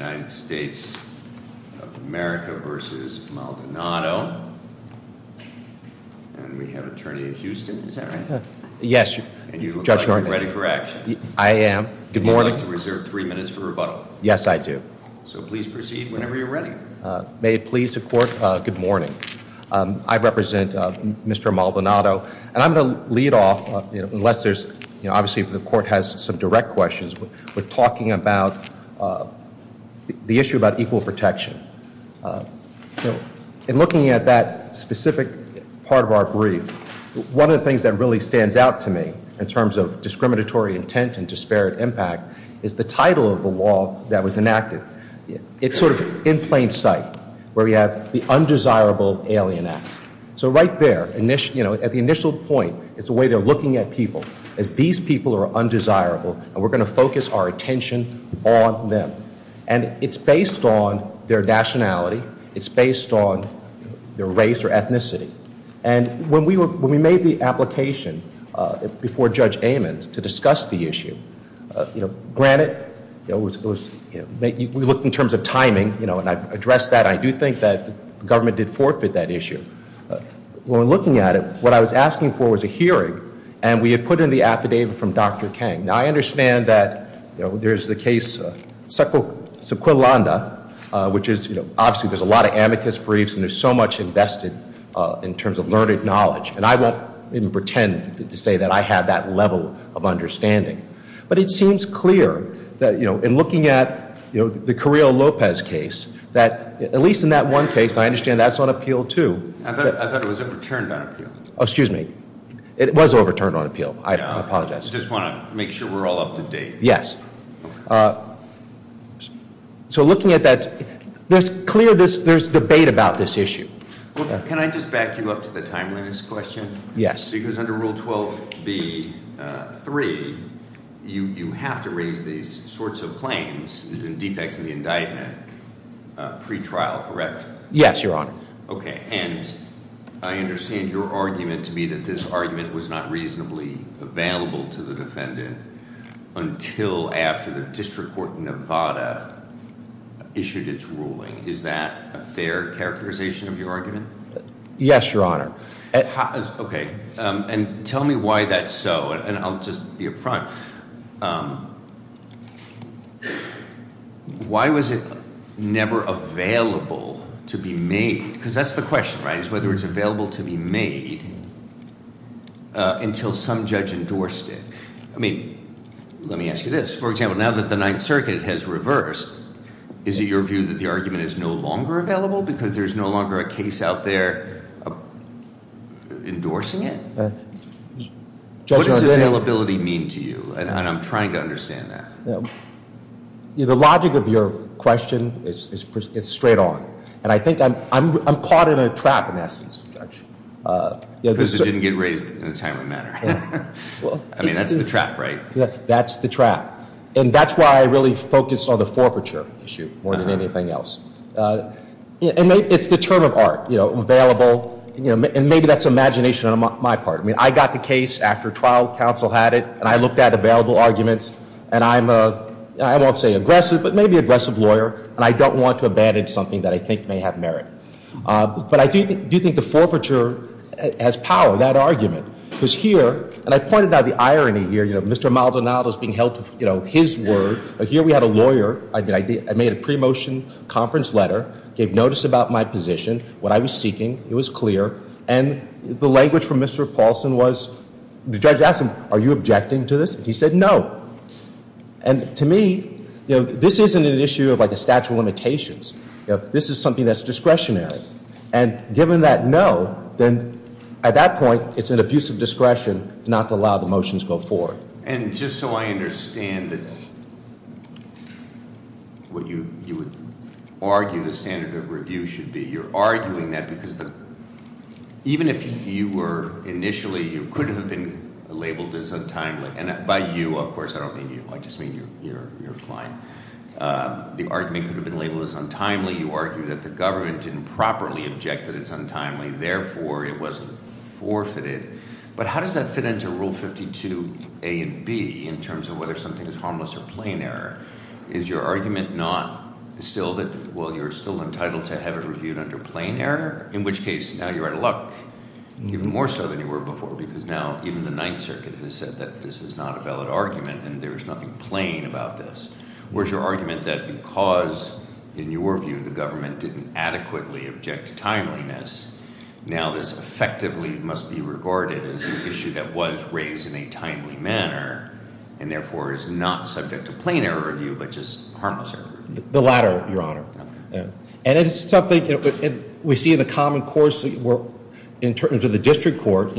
and we have an attorney in Houston, is that right? Yes. And you look like you're ready for action. I am. Good morning. You're allowed to reserve three minutes for rebuttal. Yes, I do. So please proceed whenever you're ready. May it please the court, good morning. I represent Mr. Maldonado and I'm going to lead off, unless there's, obviously the court has some direct questions, we're talking about the issue about equal protection. In looking at that specific part of our brief, one of the things that really stands out to me in terms of discriminatory intent and disparate impact is the title of the law that was enacted. It's sort of in plain sight where we have the Undesirable Alien Act. So right there, at the initial point, it's a way they're looking at people as these people are undesirable and we're going to focus our attention on them. And it's based on their nationality, it's based on their race or ethnicity. And when we made the application before Judge Amon to discuss the issue, granted, we looked in terms of timing and I've addressed that, I do think that the government did forfeit that issue. When we're looking at it, what I was asking for was a hearing and we had put in the affidavit from Dr. Kang. Now, I understand that there's the case Sequillanda, which is, obviously there's a lot of amicus briefs and there's so much invested in terms of learned knowledge. And I won't even pretend to say that I have that level of understanding. But it seems clear that in looking at the Carrillo-Lopez case, that at least in that one case, I understand that's on appeal too. I thought it was overturned on appeal. Excuse me. It was overturned on appeal. I apologize. I just want to make sure we're all up to date. Yes. So, looking at that, there's clear, there's debate about this issue. Can I just back you up to the timeliness question? Yes. Because under Rule 12b-3, you have to raise these sorts of claims, defects of the indictment, pretrial, correct? Yes, Your Honor. Okay. And I understand your argument to be that this argument was not reasonably available to the defendant until after the District Court in Nevada issued its ruling. Is that a fair characterization of your argument? Yes, Your Honor. Okay. And tell me why that's so. And I'll just be up front. Now, why was it never available to be made? Because that's the question, right? Is whether it's available to be made until some judge endorsed it. I mean, let me ask you this. For example, now that the Ninth Circuit has reversed, is it your view that the argument is no longer available because there's no longer a case out there endorsing it? Judge O'Donnell. What does availability mean to you? And I'm trying to understand that. The logic of your question is straight on. And I think I'm caught in a trap, in essence, Judge. Because it didn't get raised in a timely manner. I mean, that's the trap, right? That's the trap. And that's why I really focused on the forfeiture issue more than anything else. It's the term of art, you know, available. And maybe that's imagination on my part. I mean, I got the case after trial. Counsel had it. And I looked at available arguments. And I'm a, I won't say aggressive, but maybe aggressive lawyer. And I don't want to abandon something that I think may have merit. But I do think the forfeiture has power, that argument. Because here, and I pointed out the irony here. You know, Mr. Maldonado is being held to, you know, his word. But here we had a lawyer. I made a pre-motion conference letter. Gave notice about my position, what I was seeking. It was clear. And the language from Mr. Paulson was, the judge asked him, are you objecting to this? He said no. And to me, you know, this isn't an issue of like a statute of limitations. This is something that's discretionary. And given that no, then at that point it's an abuse of discretion not to allow the motions to go forward. And just so I understand what you would argue the standard of review should be. You're arguing that because even if you were initially, you could have been labeled as untimely. And by you, of course, I don't mean you. I just mean you're applying. The argument could have been labeled as untimely. You argue that the government didn't properly object that it's untimely. Therefore, it wasn't forfeited. But how does that fit into Rule 52a and b in terms of whether something is harmless or plain error? Is your argument not still that, well, you're still entitled to have it reviewed under plain error? In which case, now you're out of luck, even more so than you were before. Because now even the Ninth Circuit has said that this is not a valid argument and there is nothing plain about this. Whereas your argument that because, in your view, the government didn't adequately object to timeliness. Now this effectively must be regarded as an issue that was raised in a timely manner. And therefore, is not subject to plain error review, but just harmless error review. The latter, Your Honor. And it's something we see in the common courts, in terms of the district court,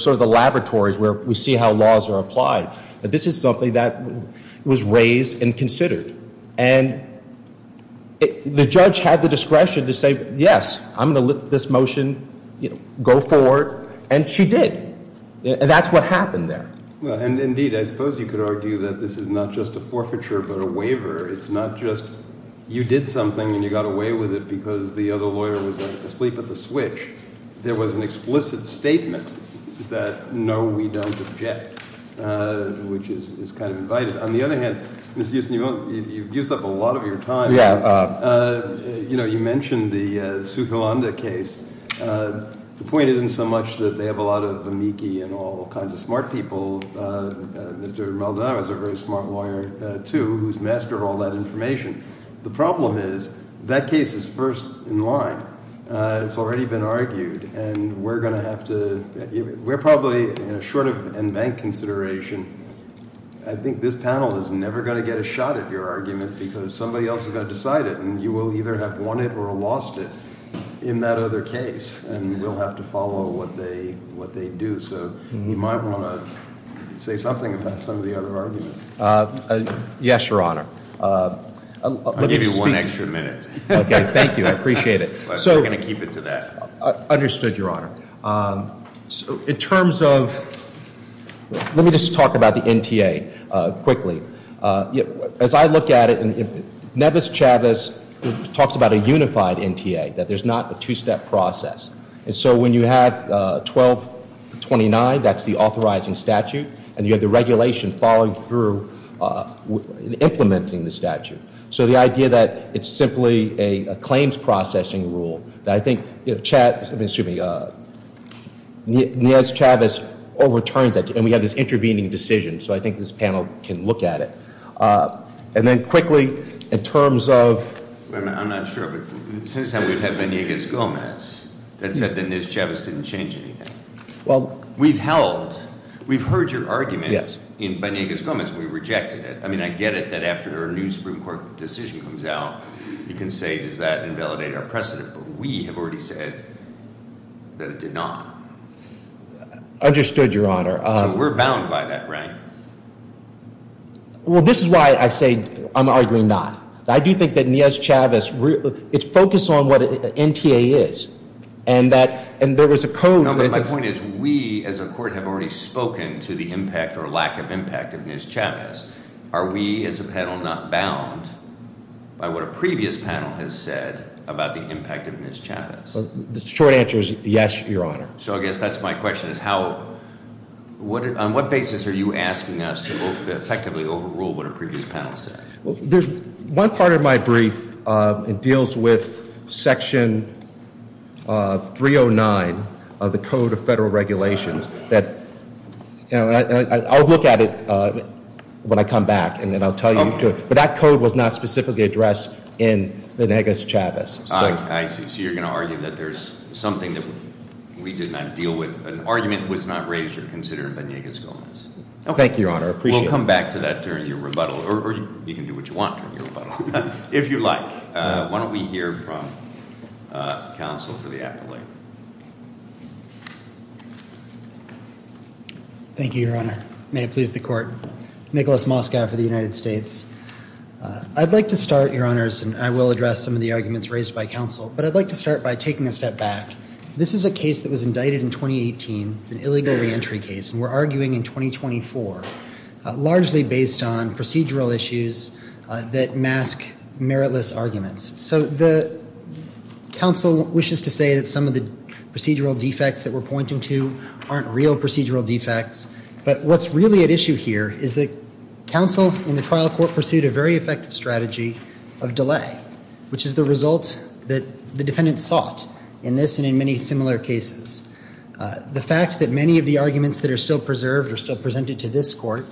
sort of the laboratories where we see how laws are applied. This is something that was raised and considered. And the judge had the discretion to say, yes, I'm going to let this motion go forward. And she did. And that's what happened there. And indeed, I suppose you could argue that this is not just a forfeiture, but a waiver. It's not just you did something and you got away with it because the other lawyer was asleep at the switch. There was an explicit statement that no, we don't object, which is kind of invited. On the other hand, Mr. Euston, you've used up a lot of your time. You mentioned the Suhalanda case. The point isn't so much that they have a lot of amici and all kinds of smart people. Mr. Maldonado is a very smart lawyer, too, who's mastered all that information. The problem is that case is first in line. It's already been argued. And we're going to have to – we're probably short of in bank consideration. I think this panel is never going to get a shot at your argument because somebody else has got to decide it. And you will either have won it or lost it in that other case. And we'll have to follow what they do. So you might want to say something about some of the other arguments. Yes, Your Honor. I'll give you one extra minute. Okay. Thank you. I appreciate it. But we're going to keep it to that. Understood, Your Honor. In terms of – let me just talk about the NTA quickly. As I look at it, Nevis-Chavis talks about a unified NTA, that there's not a two-step process. And so when you have 1229, that's the authorizing statute, and you have the regulation following through implementing the statute. So the idea that it's simply a claims processing rule that I think Nevis-Chavis overturns that, and we have this intervening decision. So I think this panel can look at it. And then quickly, in terms of – I'm not sure, but since then we've had Banegas-Gomez that said that Nevis-Chavis didn't change anything. Well – We've held – we've heard your argument in Banegas-Gomez. We rejected it. I mean, I get it that after a new Supreme Court decision comes out, you can say, does that invalidate our precedent? But we have already said that it did not. Understood, Your Honor. So we're bound by that, right? Well, this is why I say I'm arguing not. I do think that Nevis-Chavis, it's focused on what an NTA is. And there was a code – No, but my point is we as a court have already spoken to the impact or lack of impact of Nevis-Chavis. Are we as a panel not bound by what a previous panel has said about the impact of Nevis-Chavis? The short answer is yes, Your Honor. So I guess that's my question is how – on what basis are you asking us to effectively overrule what a previous panel said? Well, there's – one part of my brief deals with Section 309 of the Code of Federal Regulations that – I'll look at it when I come back and then I'll tell you. But that code was not specifically addressed in Banegas-Chavis. I see. So you're going to argue that there's something that we did not deal with. An argument was not raised or considered in Banegas-Chavis. Thank you, Your Honor. I appreciate that. We'll come back to that during your rebuttal. Or you can do what you want during your rebuttal, if you like. Why don't we hear from counsel for the appellate? Thank you, Your Honor. May it please the Court. Nicholas Moskow for the United States. I'd like to start, Your Honors, and I will address some of the arguments raised by counsel. But I'd like to start by taking a step back. This is a case that was indicted in 2018. It's an illegal reentry case, and we're arguing in 2024, largely based on procedural issues that mask meritless arguments. So the counsel wishes to say that some of the procedural defects that we're pointing to aren't real procedural defects. But what's really at issue here is that counsel in the trial court pursued a very effective strategy of delay, which is the result that the defendant sought in this and in many similar cases. The fact that many of the arguments that are still preserved or still presented to this court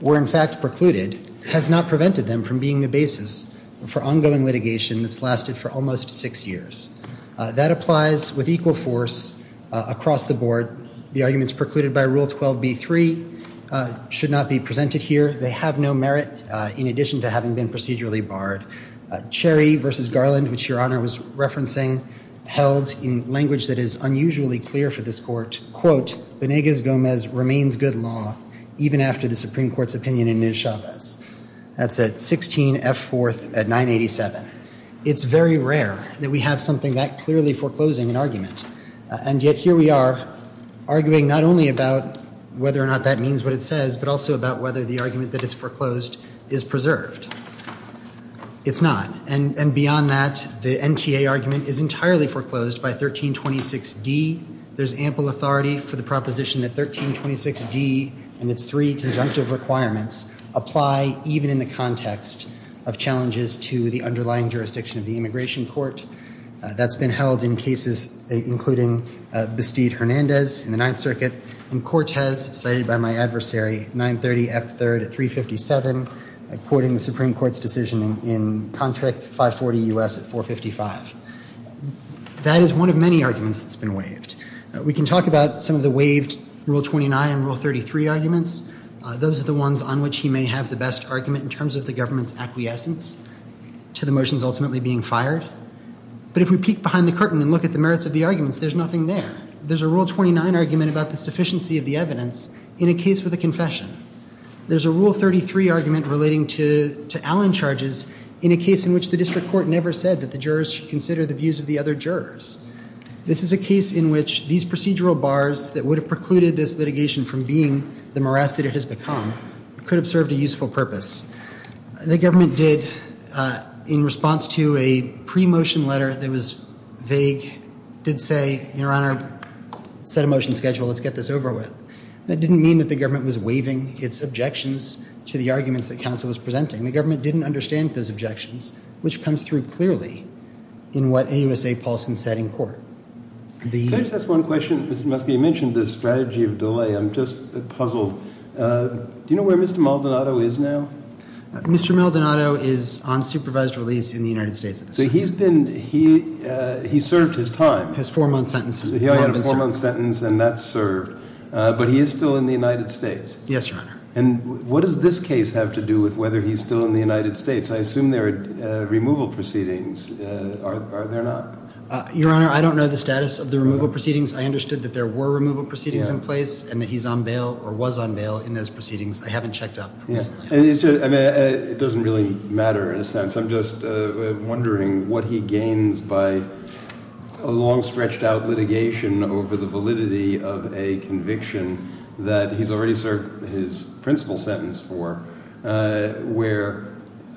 were, in fact, precluded, has not prevented them from being the basis for ongoing litigation that's lasted for almost six years. That applies with equal force across the board. The arguments precluded by Rule 12b-3 should not be presented here. They have no merit, in addition to having been procedurally barred. Cherry v. Garland, which Your Honor was referencing, held in language that is unusually clear for this court, quote, Benegas-Gomez remains good law even after the Supreme Court's opinion in Nischavez. That's at 16 F. 4th at 987. It's very rare that we have something that clearly foreclosing an argument. And yet here we are arguing not only about whether or not that means what it says, but also about whether the argument that it's foreclosed is preserved. It's not. And beyond that, the NTA argument is entirely foreclosed by 1326d. There's ample authority for the proposition that 1326d and its three conjunctive requirements apply even in the context of challenges to the underlying jurisdiction of the immigration court. That's been held in cases including Bastide-Hernandez in the Ninth Circuit and Cortez cited by my adversary, 930 F. 3rd at 357, according to the Supreme Court's decision in Contract 540 U.S. at 455. That is one of many arguments that's been waived. We can talk about some of the waived Rule 29 and Rule 33 arguments. Those are the ones on which he may have the best argument in terms of the government's acquiescence to the motions ultimately being fired. But if we peek behind the curtain and look at the merits of the arguments, there's nothing there. There's a Rule 29 argument about the sufficiency of the evidence in a case with a confession. There's a Rule 33 argument relating to Allen charges in a case in which the district court never said that the jurors should consider the views of the other jurors. This is a case in which these procedural bars that would have precluded this litigation from being the morass that it has become could have served a useful purpose. The government did, in response to a pre-motion letter that was vague, did say, Your Honor, set a motion schedule, let's get this over with. That didn't mean that the government was waiving its objections to the arguments that counsel was presenting. The government didn't understand those objections, which comes through clearly in what AUSA Paulson said in court. Can I just ask one question? Mr. Muskie, you mentioned this strategy of delay. I'm just puzzled. Do you know where Mr. Maldonado is now? Mr. Maldonado is on supervised release in the United States at this time. He served his time. He had a four-month sentence, and that's served. But he is still in the United States. Yes, Your Honor. And what does this case have to do with whether he's still in the United States? I assume there are removal proceedings. Are there not? Your Honor, I don't know the status of the removal proceedings. I understood that there were removal proceedings in place and that he's on bail or was on bail in those proceedings. I haven't checked up. It doesn't really matter in a sense. I'm just wondering what he gains by a long-stretched-out litigation over the validity of a conviction that he's already served his principal sentence for, where,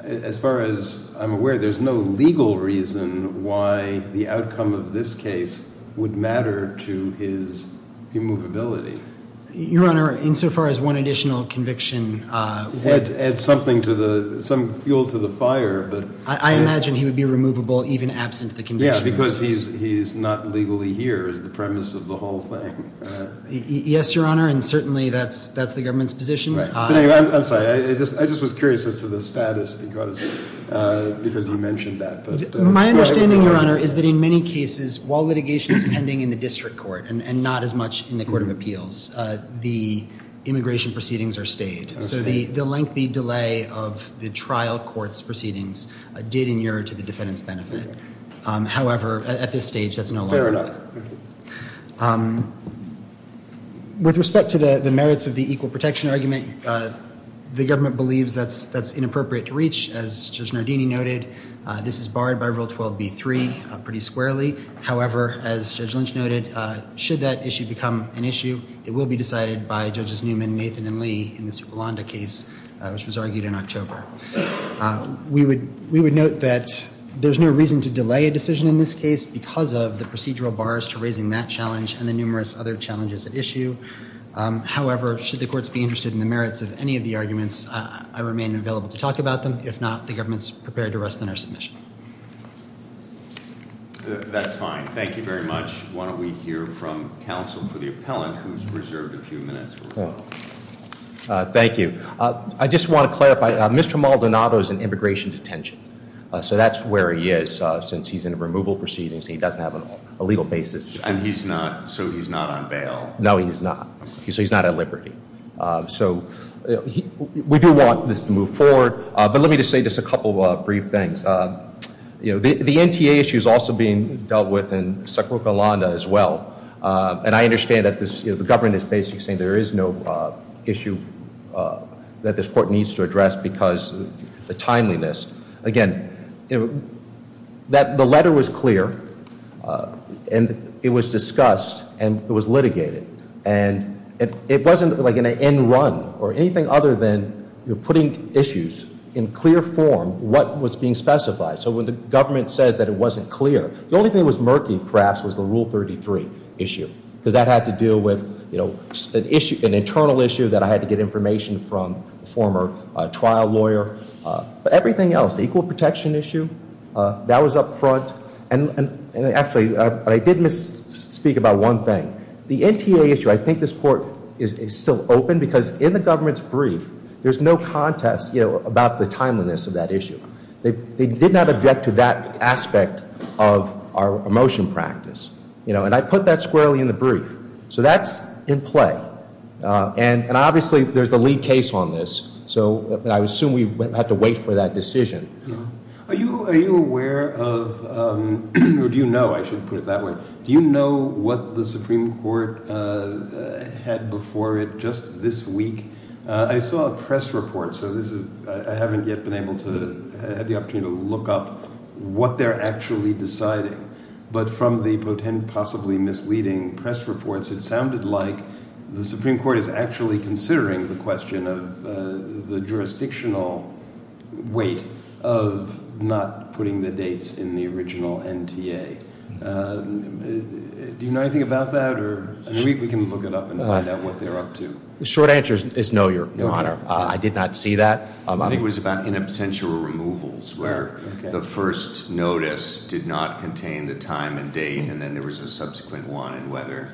as far as I'm aware, there's no legal reason why the outcome of this case would matter to his immovability. Your Honor, insofar as one additional conviction adds something to the – some fuel to the fire. I imagine he would be removable even absent the conviction. Yes, because he's not legally here is the premise of the whole thing. Yes, Your Honor, and certainly that's the government's position. I'm sorry. I just was curious as to the status because you mentioned that. My understanding, Your Honor, is that in many cases, while litigation is pending in the district court and not as much in the court of appeals, the immigration proceedings are stayed. So the lengthy delay of the trial court's proceedings did inure to the defendant's benefit. However, at this stage, that's no longer the case. Fair enough. With respect to the merits of the equal protection argument, the government believes that's inappropriate to reach. As Judge Nardini noted, this is barred by Rule 12b-3 pretty squarely. However, as Judge Lynch noted, should that issue become an issue, it will be decided by Judges Newman, Nathan, and Lee in the Superlanda case, which was argued in October. We would note that there's no reason to delay a decision in this case because of the procedural bars to raising that challenge and the numerous other challenges at issue. However, should the courts be interested in the merits of any of the arguments, I remain available to talk about them. If not, the government's prepared to rest on our submission. That's fine. Thank you very much. Why don't we hear from counsel for the appellant, who's reserved a few minutes for rebuttal. Thank you. I just want to clarify, Mr. Maldonado is in immigration detention. So that's where he is, since he's in a removal proceedings. He doesn't have a legal basis. And he's not, so he's not on bail. No, he's not. So he's not at liberty. So we do want this to move forward. But let me just say just a couple of brief things. You know, the NTA issue is also being dealt with in Sacro Calanda as well. And I understand that the government is basically saying there is no issue that this court needs to address because of the timeliness. Again, the letter was clear, and it was discussed, and it was litigated. And it wasn't like an end run or anything other than putting issues in clear form what was being specified. So when the government says that it wasn't clear, the only thing that was murky, perhaps, was the Rule 33 issue. Because that had to deal with an internal issue that I had to get information from a former trial lawyer. But everything else, the equal protection issue, that was up front. And actually, I did misspeak about one thing. The NTA issue, I think this court is still open because in the government's brief, there's no contest about the timeliness of that issue. They did not object to that aspect of our motion practice. And I put that squarely in the brief. So that's in play. And obviously, there's a lead case on this. So I assume we have to wait for that decision. Are you aware of, or do you know, I should put it that way, do you know what the Supreme Court had before it just this week? I saw a press report, so I haven't yet been able to have the opportunity to look up what they're actually deciding. But from the possibly misleading press reports, it sounded like the Supreme Court is actually considering the question of the jurisdictional weight of not putting the dates in the original NTA. Do you know anything about that? We can look it up and find out what they're up to. The short answer is no, Your Honor. I did not see that. I think it was about in absentia removals, where the first notice did not contain the time and date. And then there was a subsequent one in whether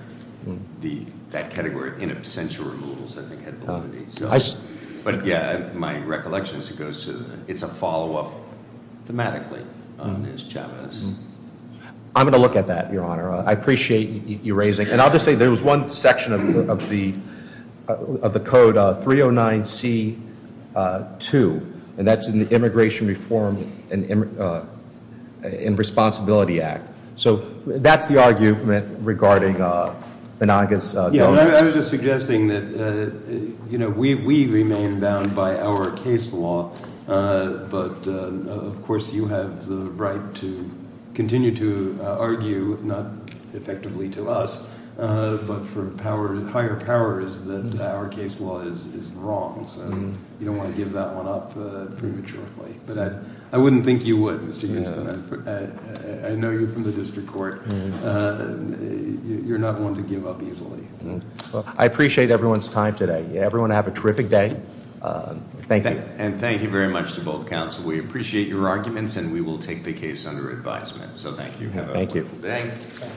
that category, in absentia removals, I think had validity. But yeah, my recollection is it's a follow-up thematically on Ms. Chavez. I'm going to look at that, Your Honor. I appreciate you raising it. And I'll just say there was one section of the code, 309C2, and that's in the Immigration Reform and Responsibility Act. So that's the argument regarding Banagas' bill. I was just suggesting that we remain bound by our case law, but of course you have the right to continue to argue, not effectively to us, but for higher powers, that our case law is wrong. So you don't want to give that one up prematurely. But I wouldn't think you would, Mr. Houston. I know you from the district court. You're not going to give up easily. I appreciate everyone's time today. Everyone have a terrific day. Thank you. And thank you very much to both counsel. We appreciate your arguments, and we will take the case under advisement. So thank you. Thank you.